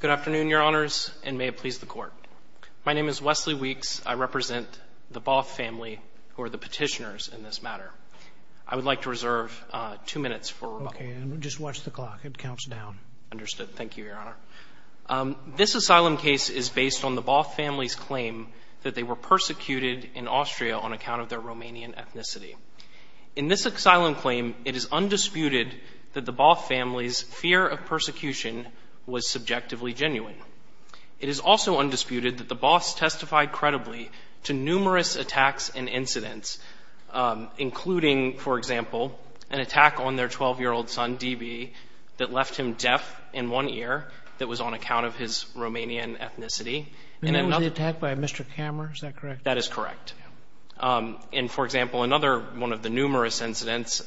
Good afternoon, your honors, and may it please the court. My name is Wesley Weeks. I represent the Both family, who are the petitioners in this matter. I would like to reserve two minutes for rebuttal. Okay, and just watch the clock. It counts down. Understood. Thank you, your honor. This asylum case is based on the Both family's claim that they were persecuted in Austria on account of their Romanian ethnicity. In this asylum claim, it is undisputed that the persecution was subjectively genuine. It is also undisputed that the Boths testified credibly to numerous attacks and incidents, including, for example, an attack on their 12-year-old son, D.B., that left him deaf in one ear that was on account of his Romanian ethnicity. And it was the attack by Mr. Kammerer. Is that correct? That is correct. And, for example, another one of the numerous incidents,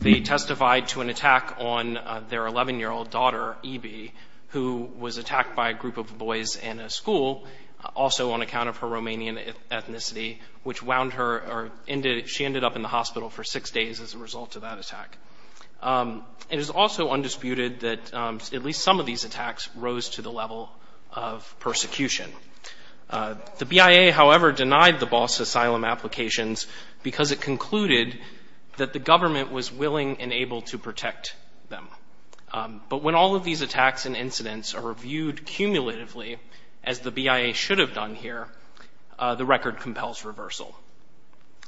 they testified to an attack on their 11-year-old daughter, E.B., who was attacked by a group of boys in a school, also on account of her Romanian ethnicity, which wound her or ended – she ended up in the hospital for six days as a result of that attack. It is also undisputed that at least some of these attacks rose to the level of persecution. The BIA, however, denied the Boths' asylum applications because it concluded that the BIA was unable to protect them. But when all of these attacks and incidents are reviewed cumulatively, as the BIA should have done here, the record compels reversal.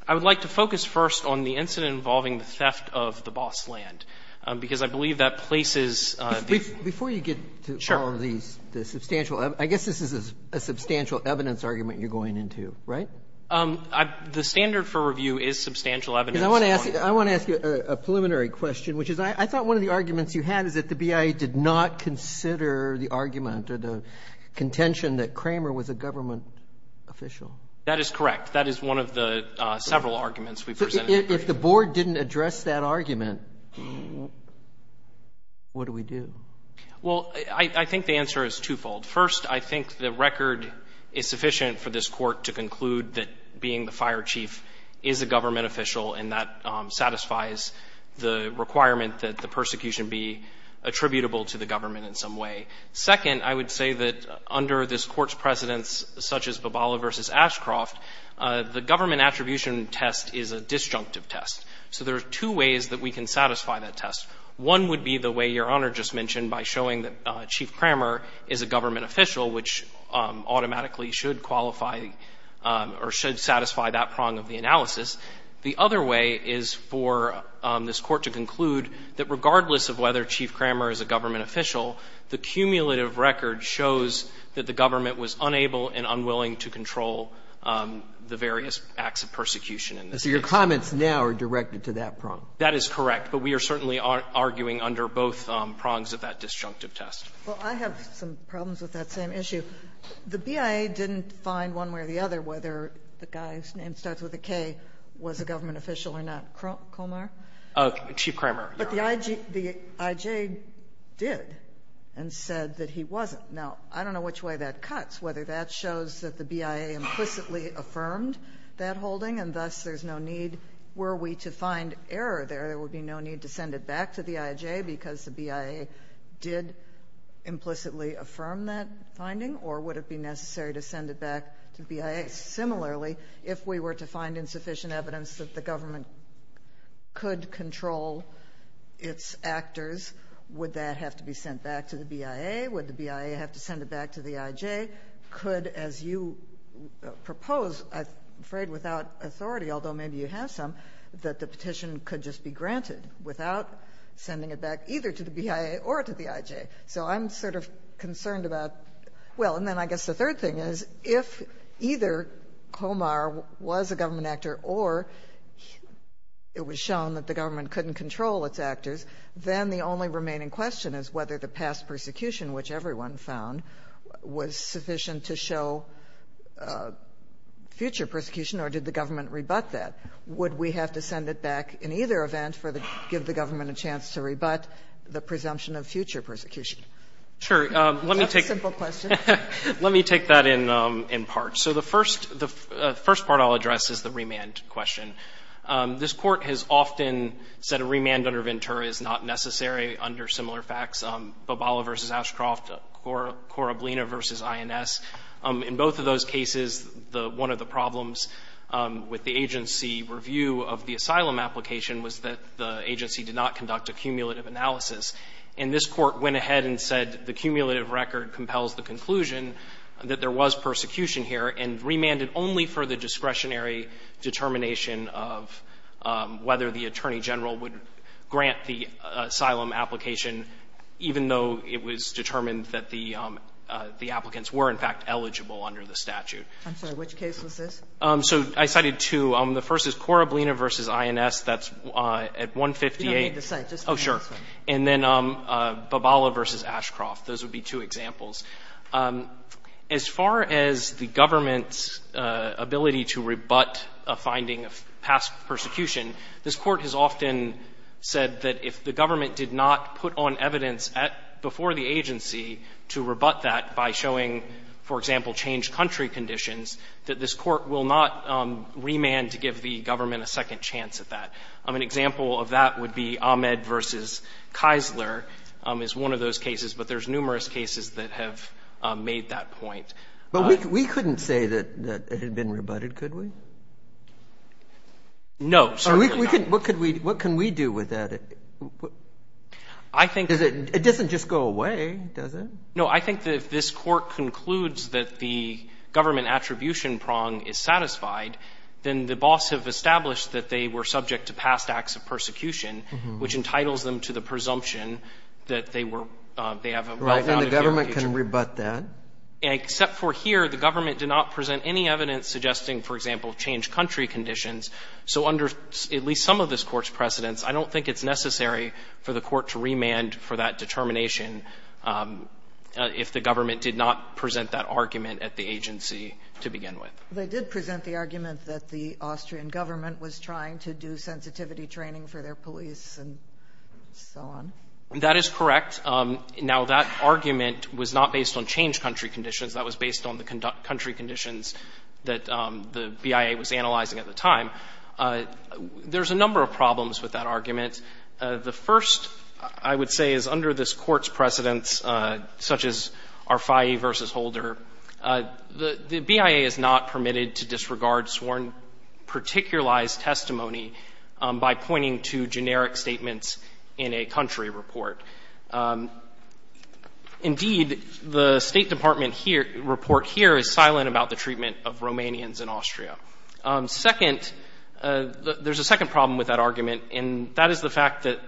I would like to focus first on the incident involving the theft of the Boths' land, because I believe that places – Before you get to all of these, the substantial – I guess this is a substantial evidence argument you're going into, right? The standard for review is substantial evidence. Because I want to ask you a preliminary question, which is I thought one of the arguments you had is that the BIA did not consider the argument or the contention that Kramer was a government official. That is correct. That is one of the several arguments we presented. If the Board didn't address that argument, what do we do? Well, I think the answer is twofold. First, I think the record is sufficient for this and that satisfies the requirement that the persecution be attributable to the government in some way. Second, I would say that under this Court's precedence, such as Babala v. Ashcroft, the government attribution test is a disjunctive test. So there are two ways that we can satisfy that test. One would be the way Your Honor just mentioned by showing that Chief Kramer is a government official, which automatically should qualify or should satisfy that prong of the analysis. The other way is for this Court to conclude that regardless of whether Chief Kramer is a government official, the cumulative record shows that the government was unable and unwilling to control the various acts of persecution in this case. So your comments now are directed to that prong? That is correct. But we are certainly arguing under both prongs of that disjunctive test. Well, I have some problems with that same issue. The BIA didn't find one way or the other whether the guy's name starts with a K was a government official or not. Kromer? Chief Kramer. But the IJ did and said that he wasn't. Now, I don't know which way that cuts, whether that shows that the BIA implicitly affirmed that holding and thus there's no need were we to find error there. There would be no need to send it back to the IJ because the or would it be necessary to send it back to BIA? Similarly, if we were to find insufficient evidence that the government could control its actors, would that have to be sent back to the BIA? Would the BIA have to send it back to the IJ? Could, as you propose, I'm afraid without authority, although maybe you have some, that the petition could just be granted without sending it back either to the BIA or to the IJ. So I'm sort of concerned about well, and then I guess the third thing is if either Komar was a government actor or it was shown that the government couldn't control its actors, then the only remaining question is whether the past persecution, which everyone found was sufficient to show future persecution or did the government rebut that? Would we have to send it back in either event for the give the government a chance to rebut the presumption of future persecution? Sure. Let me take that in part. So the first part I'll address is the remand question. This court has often said a remand under Ventura is not necessary under similar facts, Bobala versus Ashcroft, Coroblina versus INS. In both of those cases, one of the problems with the agency review of the asylum application was that the agency did not conduct a cumulative analysis. And this court went ahead and said the cumulative record compels the conclusion that there was persecution here and remanded only for the discretionary determination of whether the Attorney General would grant the asylum application, even though it was determined that the applicants were, in fact, eligible under the statute. I'm sorry, which case was this? So I cited two. The first is Coroblina versus INS. That's at 158. You don't need to cite. Just remember this one. Oh, sure. And then Bobala versus Ashcroft. Those would be two examples. As far as the government's ability to rebut a finding of past persecution, this court has often said that if the government did not put on evidence before the agency will not remand to give the government a second chance at that. An example of that would be Ahmed versus Keisler is one of those cases, but there's numerous cases that have made that point. But we couldn't say that it had been rebutted, could we? No. What can we do with that? I think it doesn't just go away, does it? No, I think that if this court concludes that the government attribution prong is satisfied, then the boss have established that they were subject to past acts of persecution, which entitles them to the presumption that they were they have a wealth outage in the future. Right, and the government can rebut that. Except for here, the government did not present any evidence suggesting, for example, changed country conditions. So under at least some of this court's precedents, I don't think it's necessary for the court to remand for that determination if the government did not present that argument at the agency to begin with. They did present the argument that the Austrian government was trying to do sensitivity training for their police and so on. That is correct. Now, that argument was not based on changed country conditions. That was based on the country conditions that the BIA was analyzing at the time. There's a number of problems with that argument. The first, I would say, is under this court's precedents, such as Arfaie versus Holder, the BIA is not permitted to disregard sworn particularized testimony by pointing to generic statements in a country report. Indeed, the State Department here, report here is silent about the treatment of Romanians in Austria. Second, there's a second problem with that argument, and that is the fact that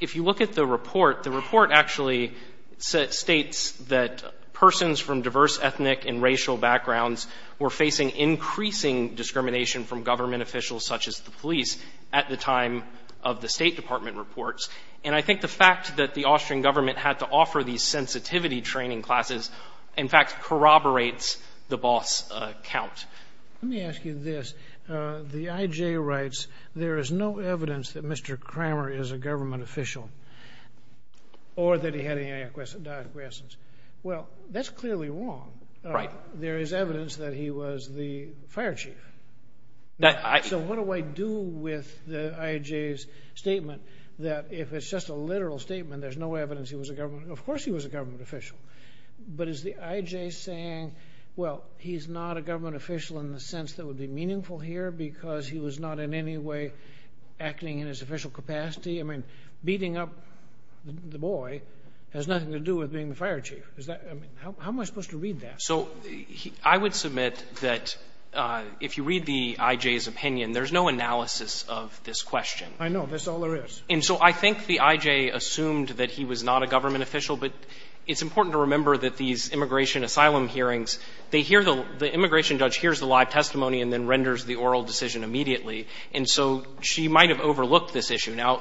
if you look at the report, the report actually states that persons from diverse ethnic and racial backgrounds were facing increasing discrimination from government officials, such as the police, at the time of the State Department reports. And I think the fact that the Austrian government had to offer these sensitivity training classes, in fact, corroborates the boss count. Let me ask you this. The IJ writes, there is no evidence that Mr. Kramer is a government official or that he had any diacrescence. Well, that's clearly wrong. There is evidence that he was the fire chief. So what do I do with the IJ's statement that if it's just a literal statement, there's no evidence he was a government, of course he was a government official. But is the IJ saying, well, he's not a government official in the sense that would be meaningful here because he was not in any way acting in his official capacity? I mean, beating up the boy has nothing to do with being the fire chief. Is that, I mean, how am I supposed to read that? So I would submit that if you read the IJ's opinion, there's no analysis of this question. I know. That's all there is. And so I think the IJ assumed that he was not a government official, but it's important to remember that these immigration asylum hearings, they hear the immigration judge hears the live testimony and then renders the oral decision immediately. And so she might have overlooked this issue. Now,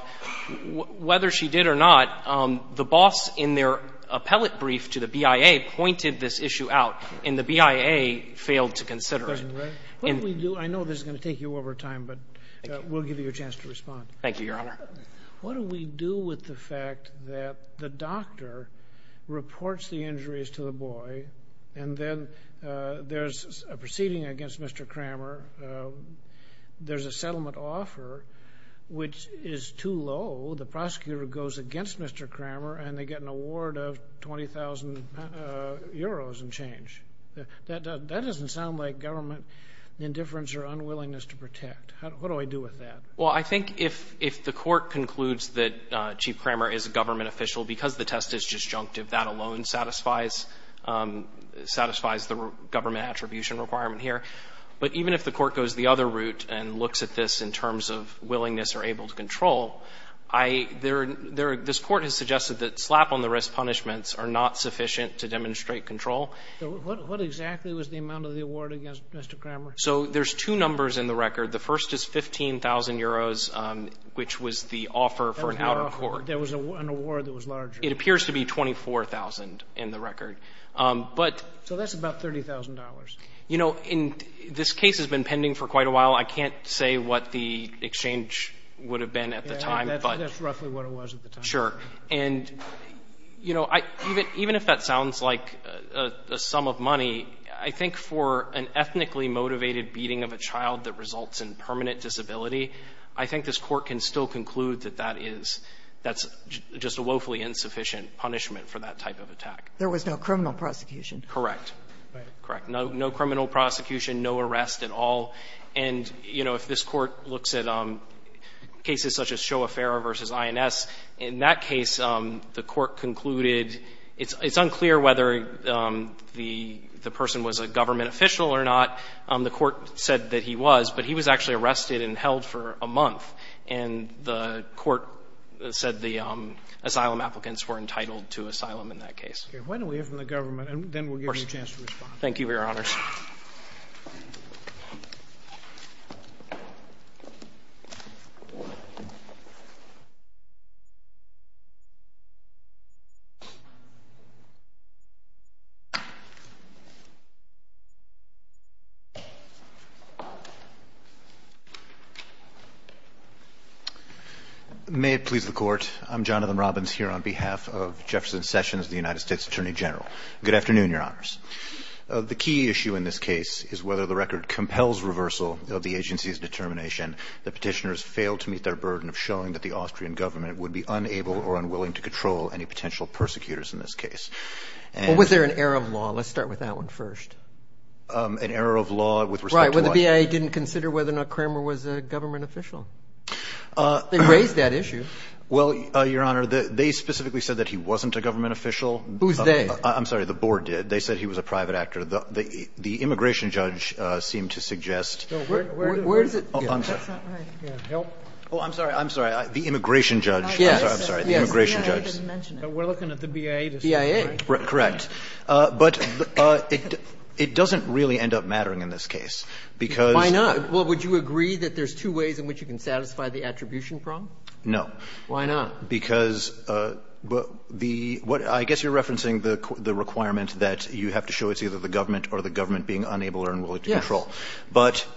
whether she did or not, the boss in their appellate brief to the BIA pointed this issue out, and the BIA failed to consider it. What do we do? I know this is going to take you over time, but we'll give you a chance to respond. Thank you, Your Honor. What do we do with the fact that the doctor reports the injuries to the boy and then there's a proceeding against Mr. Cramer, there's a settlement offer which is too low, the prosecutor goes against Mr. Cramer and they get an award of 20,000 euros in change. That doesn't sound like government indifference or unwillingness to protect. What do I do with that? Well, I think if the court concludes that Chief Cramer is a government official because the test is disjunctive, that alone satisfies the government attribution requirement here. But even if the court goes the other route and looks at this in terms of willingness or able to control, this court has suggested that slap on the wrist punishments are not sufficient to demonstrate control. What exactly was the amount of the award against Mr. Cramer? So there's two numbers in the record. The first is 15,000 euros, which was the offer for an outer court. There was an award that was larger. It appears to be 24,000 in the record, but... So that's about $30,000. You know, this case has been pending for quite a while. I can't say what the exchange would have been at the time, but... That's roughly what it was at the time. Sure. And, you know, even if that sounds like a sum of money, I think for an ethnically motivated beating of a child that results in permanent disability, I think this Court can still conclude that that is just a woefully insufficient punishment for that type of attack. There was no criminal prosecution. Correct. Right. Correct. No criminal prosecution, no arrest at all. And, you know, if this Court looks at cases such as Shoa-Fera v. INS, in that case, the Court concluded it's unclear whether the person was a government official or not. The Court said that he was, but he was actually arrested and held for a month. And the Court said the asylum applicants were entitled to asylum in that case. Okay. Why don't we hear from the government, and then we'll give you a chance to respond. Thank you, Your Honors. May it please the Court. I'm Jonathan Robbins here on behalf of Jefferson Sessions, the United States Attorney General. Good afternoon, Your Honors. The key issue in this case is whether the record compels reversal of the agency's determination that petitioners failed to meet their burden of showing that the agency had failed to control any potential persecutors in this case. Was there an error of law? Let's start with that one first. An error of law with respect to what? Right. Well, the BIA didn't consider whether or not Cramer was a government official. They raised that issue. Well, Your Honor, they specifically said that he wasn't a government official. Who's they? I'm sorry. The Board did. They said he was a private actor. The immigration judge seemed to suggest. Where is it? Oh, I'm sorry. Help. Oh, I'm sorry. I'm sorry. The immigration judge. Yes. I'm sorry. The immigration judge. We're looking at the BIA. BIA. Correct. But it doesn't really end up mattering in this case, because. Why not? Well, would you agree that there's two ways in which you can satisfy the attribution problem? No. Why not? Because the what I guess you're referencing the requirement that you have to show it's either the government or the government being unable or unwilling to control. Yes. But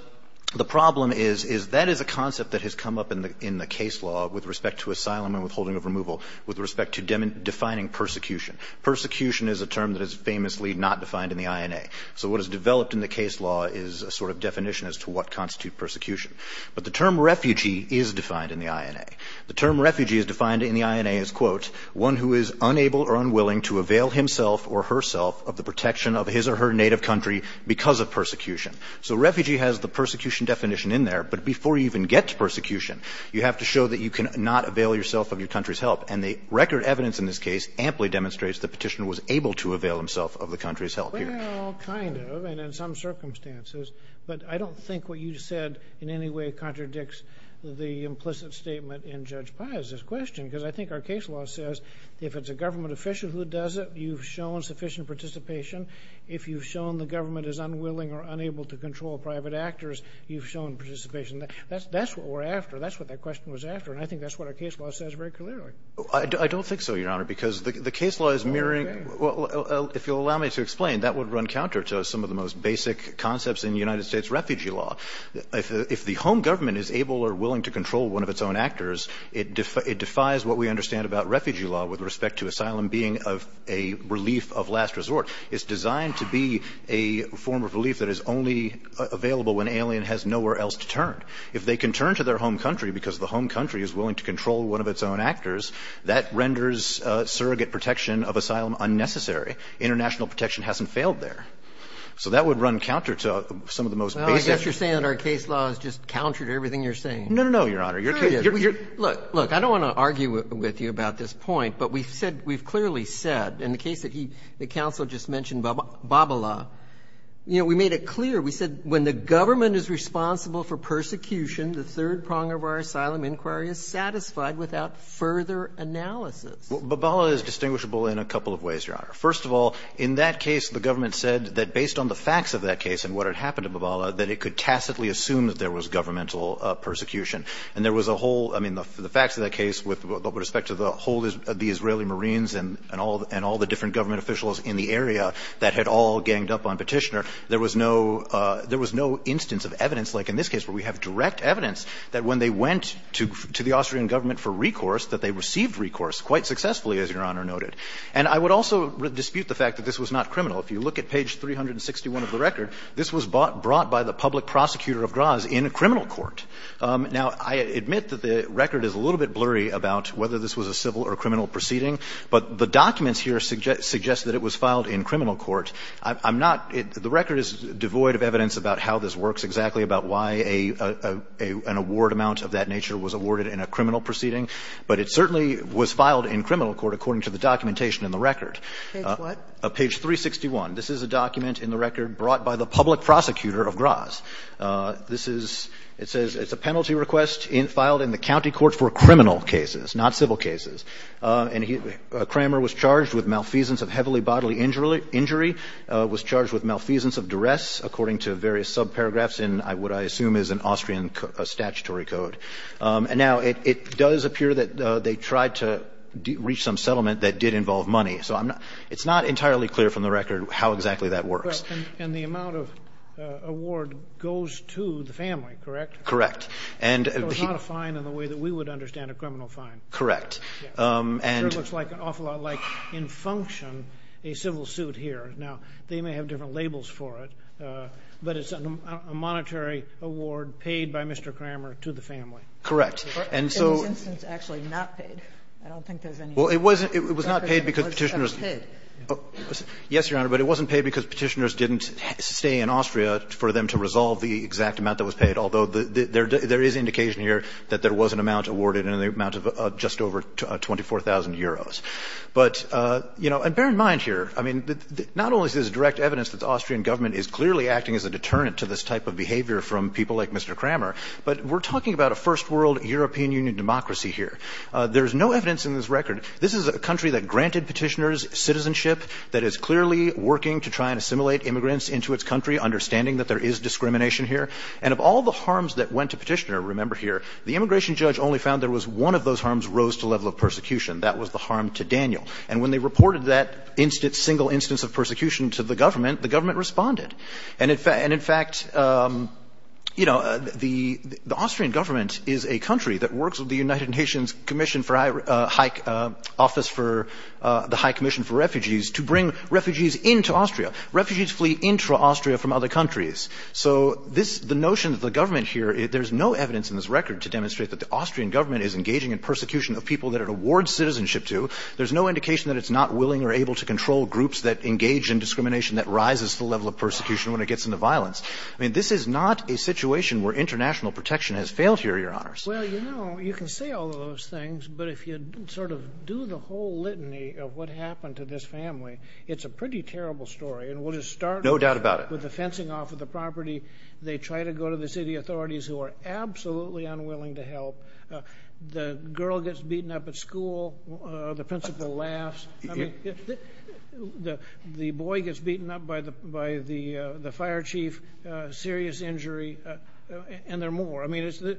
the problem is, is that is a concept that has come up in the case law with respect to asylum and withholding of removal, with respect to defining persecution. Persecution is a term that is famously not defined in the INA. So what is developed in the case law is a sort of definition as to what constitute persecution. But the term refugee is defined in the INA. The term refugee is defined in the INA as, quote, one who is unable or unwilling to avail himself or herself of the protection of his or her native country because of persecution. So refugee has the persecution definition in there. But before you even get to persecution, you have to show that you cannot avail yourself of your country's help. And the record evidence in this case amply demonstrates the Petitioner was able to avail himself of the country's help here. Well, kind of, and in some circumstances. But I don't think what you said in any way contradicts the implicit statement in Judge Pai's question, because I think our case law says if it's a government official who does it, you've shown sufficient participation. If you've shown the government is unwilling or unable to control private actors, you've shown participation. That's what we're after. That's what that question was after. And I think that's what our case law says very clearly. I don't think so, Your Honor, because the case law is mirroring. Well, if you'll allow me to explain, that would run counter to some of the most basic concepts in United States refugee law. If the home government is able or willing to control one of its own actors, it defies what we understand about refugee law with respect to asylum being a relief of last resort. It's designed to be a form of relief that is only available when an alien has nowhere else to turn. If they can turn to their home country because the home country is willing to control one of its own actors, that renders surrogate protection of asylum unnecessary. International protection hasn't failed there. So that would run counter to some of the most basic. Well, I guess you're saying our case law is just counter to everything you're saying. No, no, no, Your Honor. Look, look, I don't want to argue with you about this point, but we've said, we've also just mentioned Babala. You know, we made it clear, we said when the government is responsible for persecution, the third prong of our asylum inquiry is satisfied without further analysis. Well, Babala is distinguishable in a couple of ways, Your Honor. First of all, in that case, the government said that based on the facts of that case and what had happened to Babala, that it could tacitly assume that there was governmental persecution. And there was a whole, I mean, the facts of that case with respect to the whole of the area that had all ganged up on Petitioner, there was no – there was no instance of evidence like in this case where we have direct evidence that when they went to the Austrian government for recourse, that they received recourse quite successfully, as Your Honor noted. And I would also dispute the fact that this was not criminal. If you look at page 361 of the record, this was brought by the public prosecutor of Graz in a criminal court. Now, I admit that the record is a little bit blurry about whether this was a civil or criminal proceeding, but the documents here suggest that it was filed in criminal court. I'm not – the record is devoid of evidence about how this works, exactly about why an award amount of that nature was awarded in a criminal proceeding. But it certainly was filed in criminal court according to the documentation in the record. Page what? Page 361. This is a document in the record brought by the public prosecutor of Graz. This is – it says it's a penalty request filed in the county court for criminal cases, not civil cases. And he – Kramer was charged with malfeasance of heavily bodily injury, was charged with malfeasance of duress, according to various subparagraphs in what I assume is an Austrian statutory code. And now, it does appear that they tried to reach some settlement that did involve money. So I'm not – it's not entirely clear from the record how exactly that works. And the amount of award goes to the family, correct? Correct. And – So it's not a fine in the way that we would understand a criminal fine. Correct. And – It looks like an awful lot like in function, a civil suit here. Now, they may have different labels for it, but it's a monetary award paid by Mr. Kramer to the family. Correct. And so – In this instance, actually not paid. I don't think there's any – Well, it wasn't – it was not paid because Petitioner's – It was paid. Yes, Your Honor, but it wasn't paid because Petitioner's didn't stay in Austria for them to resolve the exact amount that was paid, although there is indication here that there was an amount awarded in the amount of just over 24,000 euros. But, you know, and bear in mind here, I mean, not only is this direct evidence that the Austrian government is clearly acting as a deterrent to this type of behavior from people like Mr. Kramer, but we're talking about a first world European Union democracy here. There's no evidence in this record – this is a country that granted Petitioner's citizenship, that is clearly working to try and assimilate immigrants into its country, understanding that there is discrimination here. And of all the harms that went to Petitioner, remember here, the immigration judge only found there was one of those harms rose to the level of persecution. That was the harm to Daniel. And when they reported that single instance of persecution to the government, the government responded. And in fact, you know, the Austrian government is a country that works with the United Nations Commission for High – Office for the High Commission for Refugees to bring refugees into Austria. Refugees flee into Austria from other countries. So this – the notion that the government here – there's no evidence in this record to demonstrate that the Austrian government is engaging in persecution of people that it awards citizenship to. There's no indication that it's not willing or able to control groups that engage in discrimination that rises to the level of persecution when it gets into violence. I mean, this is not a situation where international protection has failed here, Your Honors. Well, you know, you can say all of those things, but if you sort of do the whole litany of what happened to this family, it's a pretty terrible story. And we'll just start – No doubt about it. With the fencing off of the property, they try to go to the city authorities who are absolutely unwilling to help. The girl gets beaten up at school. The principal laughs. I mean, the boy gets beaten up by the fire chief, serious injury, and there are more. I mean, it's –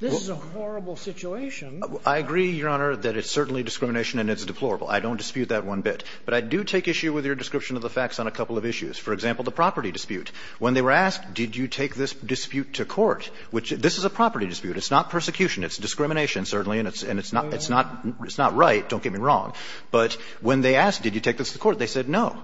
this is a horrible situation. I agree, Your Honor, that it's certainly discrimination and it's deplorable. I don't dispute that one bit. But I do take issue with your description of the facts on a couple of issues. For example, the property dispute. When they were asked, did you take this dispute to court, which – this is a property dispute. It's not persecution. It's discrimination, certainly, and it's not – it's not right. Don't get me wrong. But when they asked, did you take this to court, they said no.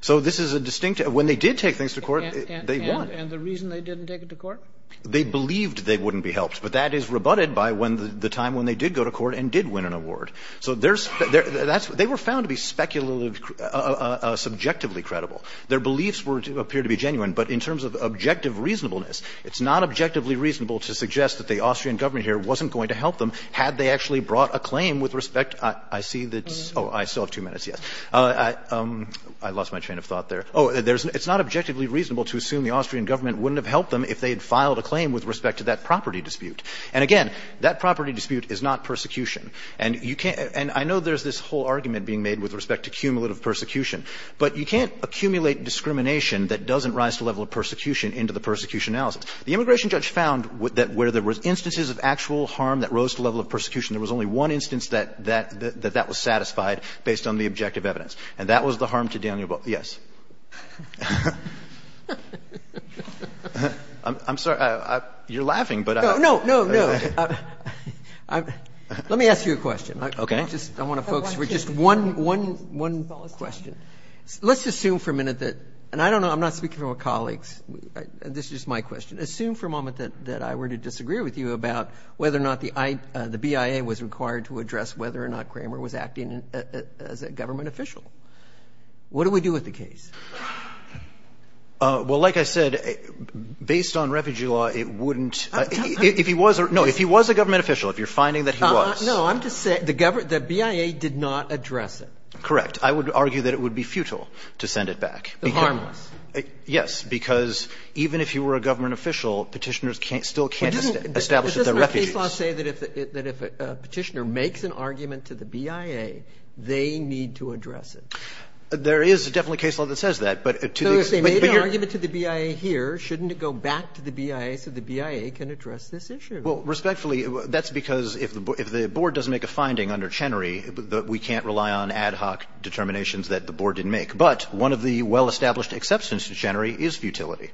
So this is a distinct – when they did take things to court, they won. And the reason they didn't take it to court? They believed they wouldn't be helped. But that is rebutted by when the time when they did go to court and did win an award. So there's – they were found to be speculatively – subjectively credible. Their beliefs were – appear to be genuine. But in terms of objective reasonableness, it's not objectively reasonable to suggest that the Austrian government here wasn't going to help them had they actually brought a claim with respect – I see that's – oh, I still have two minutes. Yes. I lost my train of thought there. Oh, there's – it's not objectively reasonable to assume the Austrian government wouldn't have helped them if they had filed a claim with respect to that property dispute. And again, that property dispute is not persecution. And you can't – and I know there's this whole argument being made with respect to cumulative persecution. But you can't accumulate discrimination that doesn't rise to the level of persecution into the persecution analysis. The immigration judge found that where there were instances of actual harm that rose to the level of persecution, there was only one instance that that was satisfied based on the objective evidence. And that was the harm to Daniel Booth. Yes. I'm sorry. You're laughing, but I – No, no, no, no. Let me ask you a question. Okay. I just – I want to focus for just one – one question. Let's assume for a minute that – and I don't know – I'm not speaking for my colleagues. This is just my question. Assume for a moment that I were to disagree with you about whether or not the BIA was required to address whether or not Kramer was acting as a government official. What do we do with the case? Well, like I said, based on refugee law, it wouldn't – if he was – no, if he was a government official, if you're finding that he was. No, I'm just saying the BIA did not address it. Correct. I would argue that it would be futile to send it back. Harmless. Yes, because even if he were a government official, Petitioners still can't establish that they're refugees. But doesn't the case law say that if a Petitioner makes an argument to the BIA, they need to address it? There is definitely a case law that says that, but to the extent – So if they made an argument to the BIA here, shouldn't it go back to the BIA so the BIA can address this issue? Well, respectfully, that's because if the board doesn't make a finding under these determinations that the board didn't make, but one of the well-established exceptions to Chenery is futility.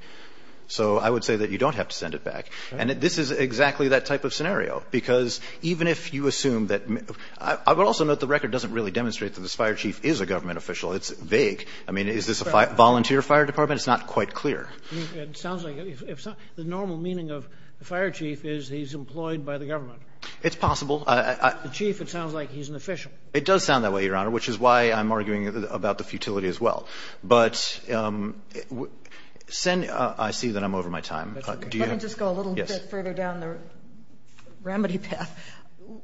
So I would say that you don't have to send it back. And this is exactly that type of scenario, because even if you assume that – I would also note the record doesn't really demonstrate that this fire chief is a government official. It's vague. I mean, is this a volunteer fire department? It's not quite clear. It sounds like – the normal meaning of the fire chief is he's employed by the government. It's possible. The chief, it sounds like he's an official. It does sound that way, Your Honor, which is why I'm arguing about the futility as well. But I see that I'm over my time. Let me just go a little bit further down the remedy path.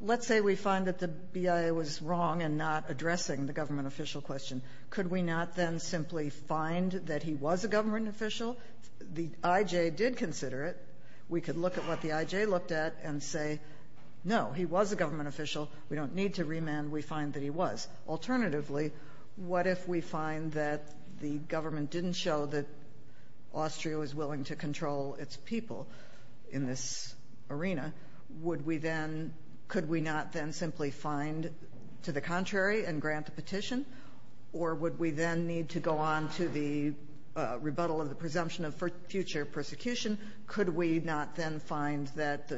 Let's say we find that the BIA was wrong in not addressing the government official question. Could we not then simply find that he was a government official? The IJ did consider it. We could look at what the IJ looked at and say, no, he was a government official. We don't need to remand. We find that he was. Alternatively, what if we find that the government didn't show that Austria was willing to control its people in this arena? Would we then – could we not then simply find to the contrary and grant the petition? Or would we then need to go on to the rebuttal of the presumption of future persecution? Could we not then find that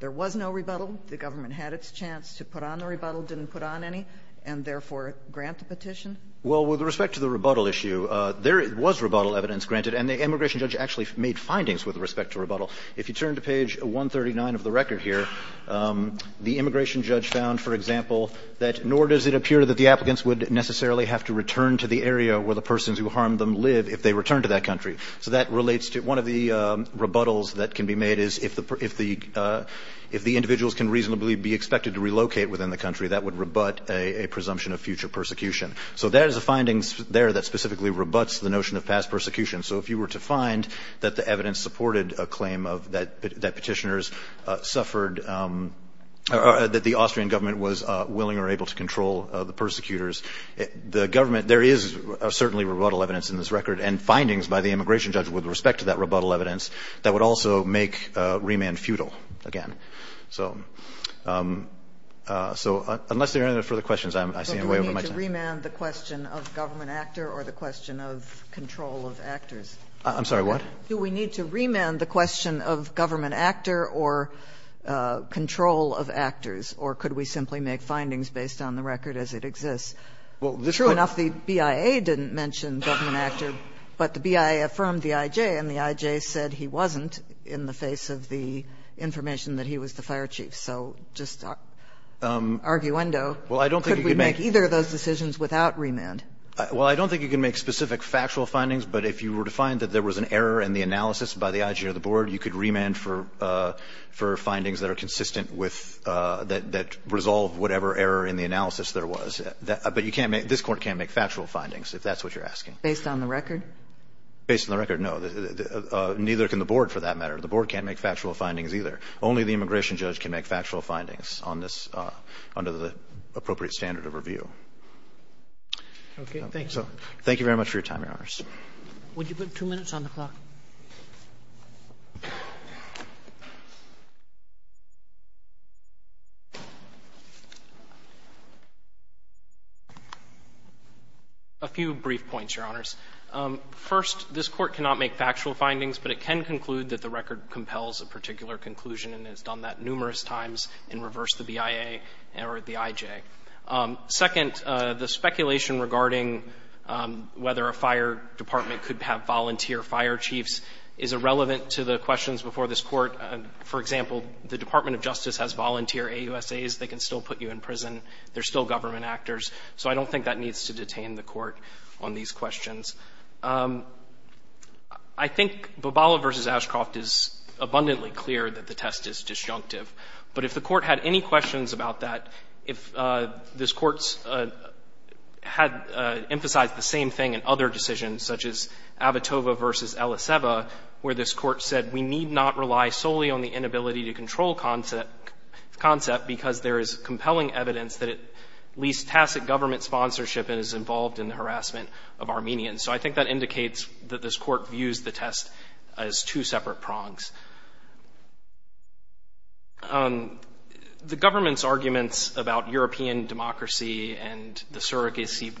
there was no rebuttal, the government had its chance to put on a rebuttal, didn't put on any, and therefore grant the petition? Well, with respect to the rebuttal issue, there was rebuttal evidence granted. And the immigration judge actually made findings with respect to rebuttal. If you turn to page 139 of the record here, the immigration judge found, for example, that nor does it appear that the applicants would necessarily have to return to the area where the persons who harmed them live if they returned to that country. So that relates to one of the rebuttals that can be made is if the individuals can reasonably be expected to relocate within the country, that would rebut a presumption of future persecution. So there is a finding there that specifically rebutts the notion of past persecution. So if you were to find that the evidence supported a claim of – that petitioners suffered – that the Austrian government was willing or able to control the persecutors, the government – there is certainly rebuttal evidence in this record and findings by the immigration judge with respect to that rebuttal evidence that would also make remand futile again. So unless there are any further questions, I see I'm way over my time. Do we need to remand the question of government actor or the question of control of actors? I'm sorry, what? Do we need to remand the question of government actor or control of actors? Or could we simply make findings based on the record as it exists? True enough, the BIA didn't mention government actor, but the BIA affirmed the I.J. And the I.J. said he wasn't in the face of the information that he was the fire chief. So just arguendo, could we make either of those decisions without remand? Well, I don't think you can make specific factual findings. But if you were to find that there was an error in the analysis by the I.J. or the board, you could remand for findings that are consistent with – that resolve whatever error in the analysis there was. But you can't make – this Court can't make factual findings, if that's what you're asking. Based on the record? Based on the record, no. Neither can the board, for that matter. The board can't make factual findings either. Only the immigration judge can make factual findings on this under the appropriate standard of review. Okay. Thank you very much for your time, Your Honors. Would you put two minutes on the clock? A few brief points, Your Honors. First, this Court cannot make factual findings, but it can conclude that the record compels a particular conclusion, and it's done that numerous times in reverse the BIA or the I.J. Second, the speculation regarding whether a fire department could have volunteer fire chiefs is irrelevant to the questions before this Court. For example, the Department of Justice has volunteer AUSAs. They can still put you in prison. They're still government actors. So I don't think that needs to detain the Court on these questions. I think Bobala v. Ashcroft is abundantly clear that the test is disjunctive. But if the Court had any questions about that, if this Court had emphasized the same thing in other decisions, such as Avitova v. Eliseva, where this Court said we need not rely solely on the inability to control concept because there is compelling evidence that it leaves tacit government sponsorship and is involved in the harassment of Armenians. So I think that indicates that this Court views the test as two separate prongs. The government's arguments about European democracy and the surrogacy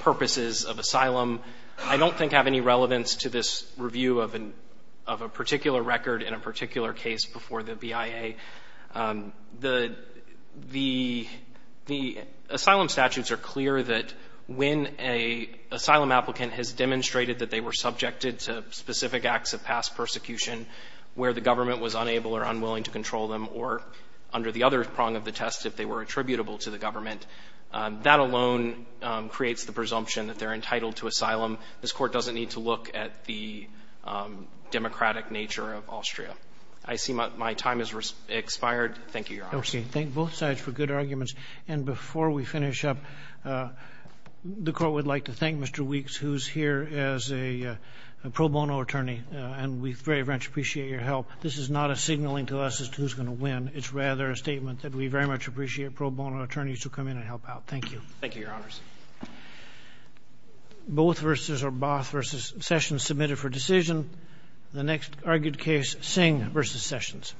purposes of asylum, I don't think have any relevance to this review of a particular record in a particular case before the BIA. The asylum statutes are clear that when an asylum applicant has demonstrated that they were subjected to specific acts of past persecution where the government was unable or unwilling to control them or under the other prong of the test, if they were attributable to the government, that alone creates the presumption that they're entitled to asylum. This Court doesn't need to look at the democratic nature of Austria. I see my time has expired. Thank you, Your Honors. Thank both sides for good arguments. And before we finish up, the Court would like to thank Mr. Weeks, who's here as a pro bono attorney, and we very much appreciate your help. This is not a signaling to us as to who's going to win. It's rather a statement that we very much appreciate pro bono attorneys who come in and help out. Thank you. Thank you, Your Honors. Both versus or Both versus Sessions submitted for decision. The next argued case, Singh versus Sessions.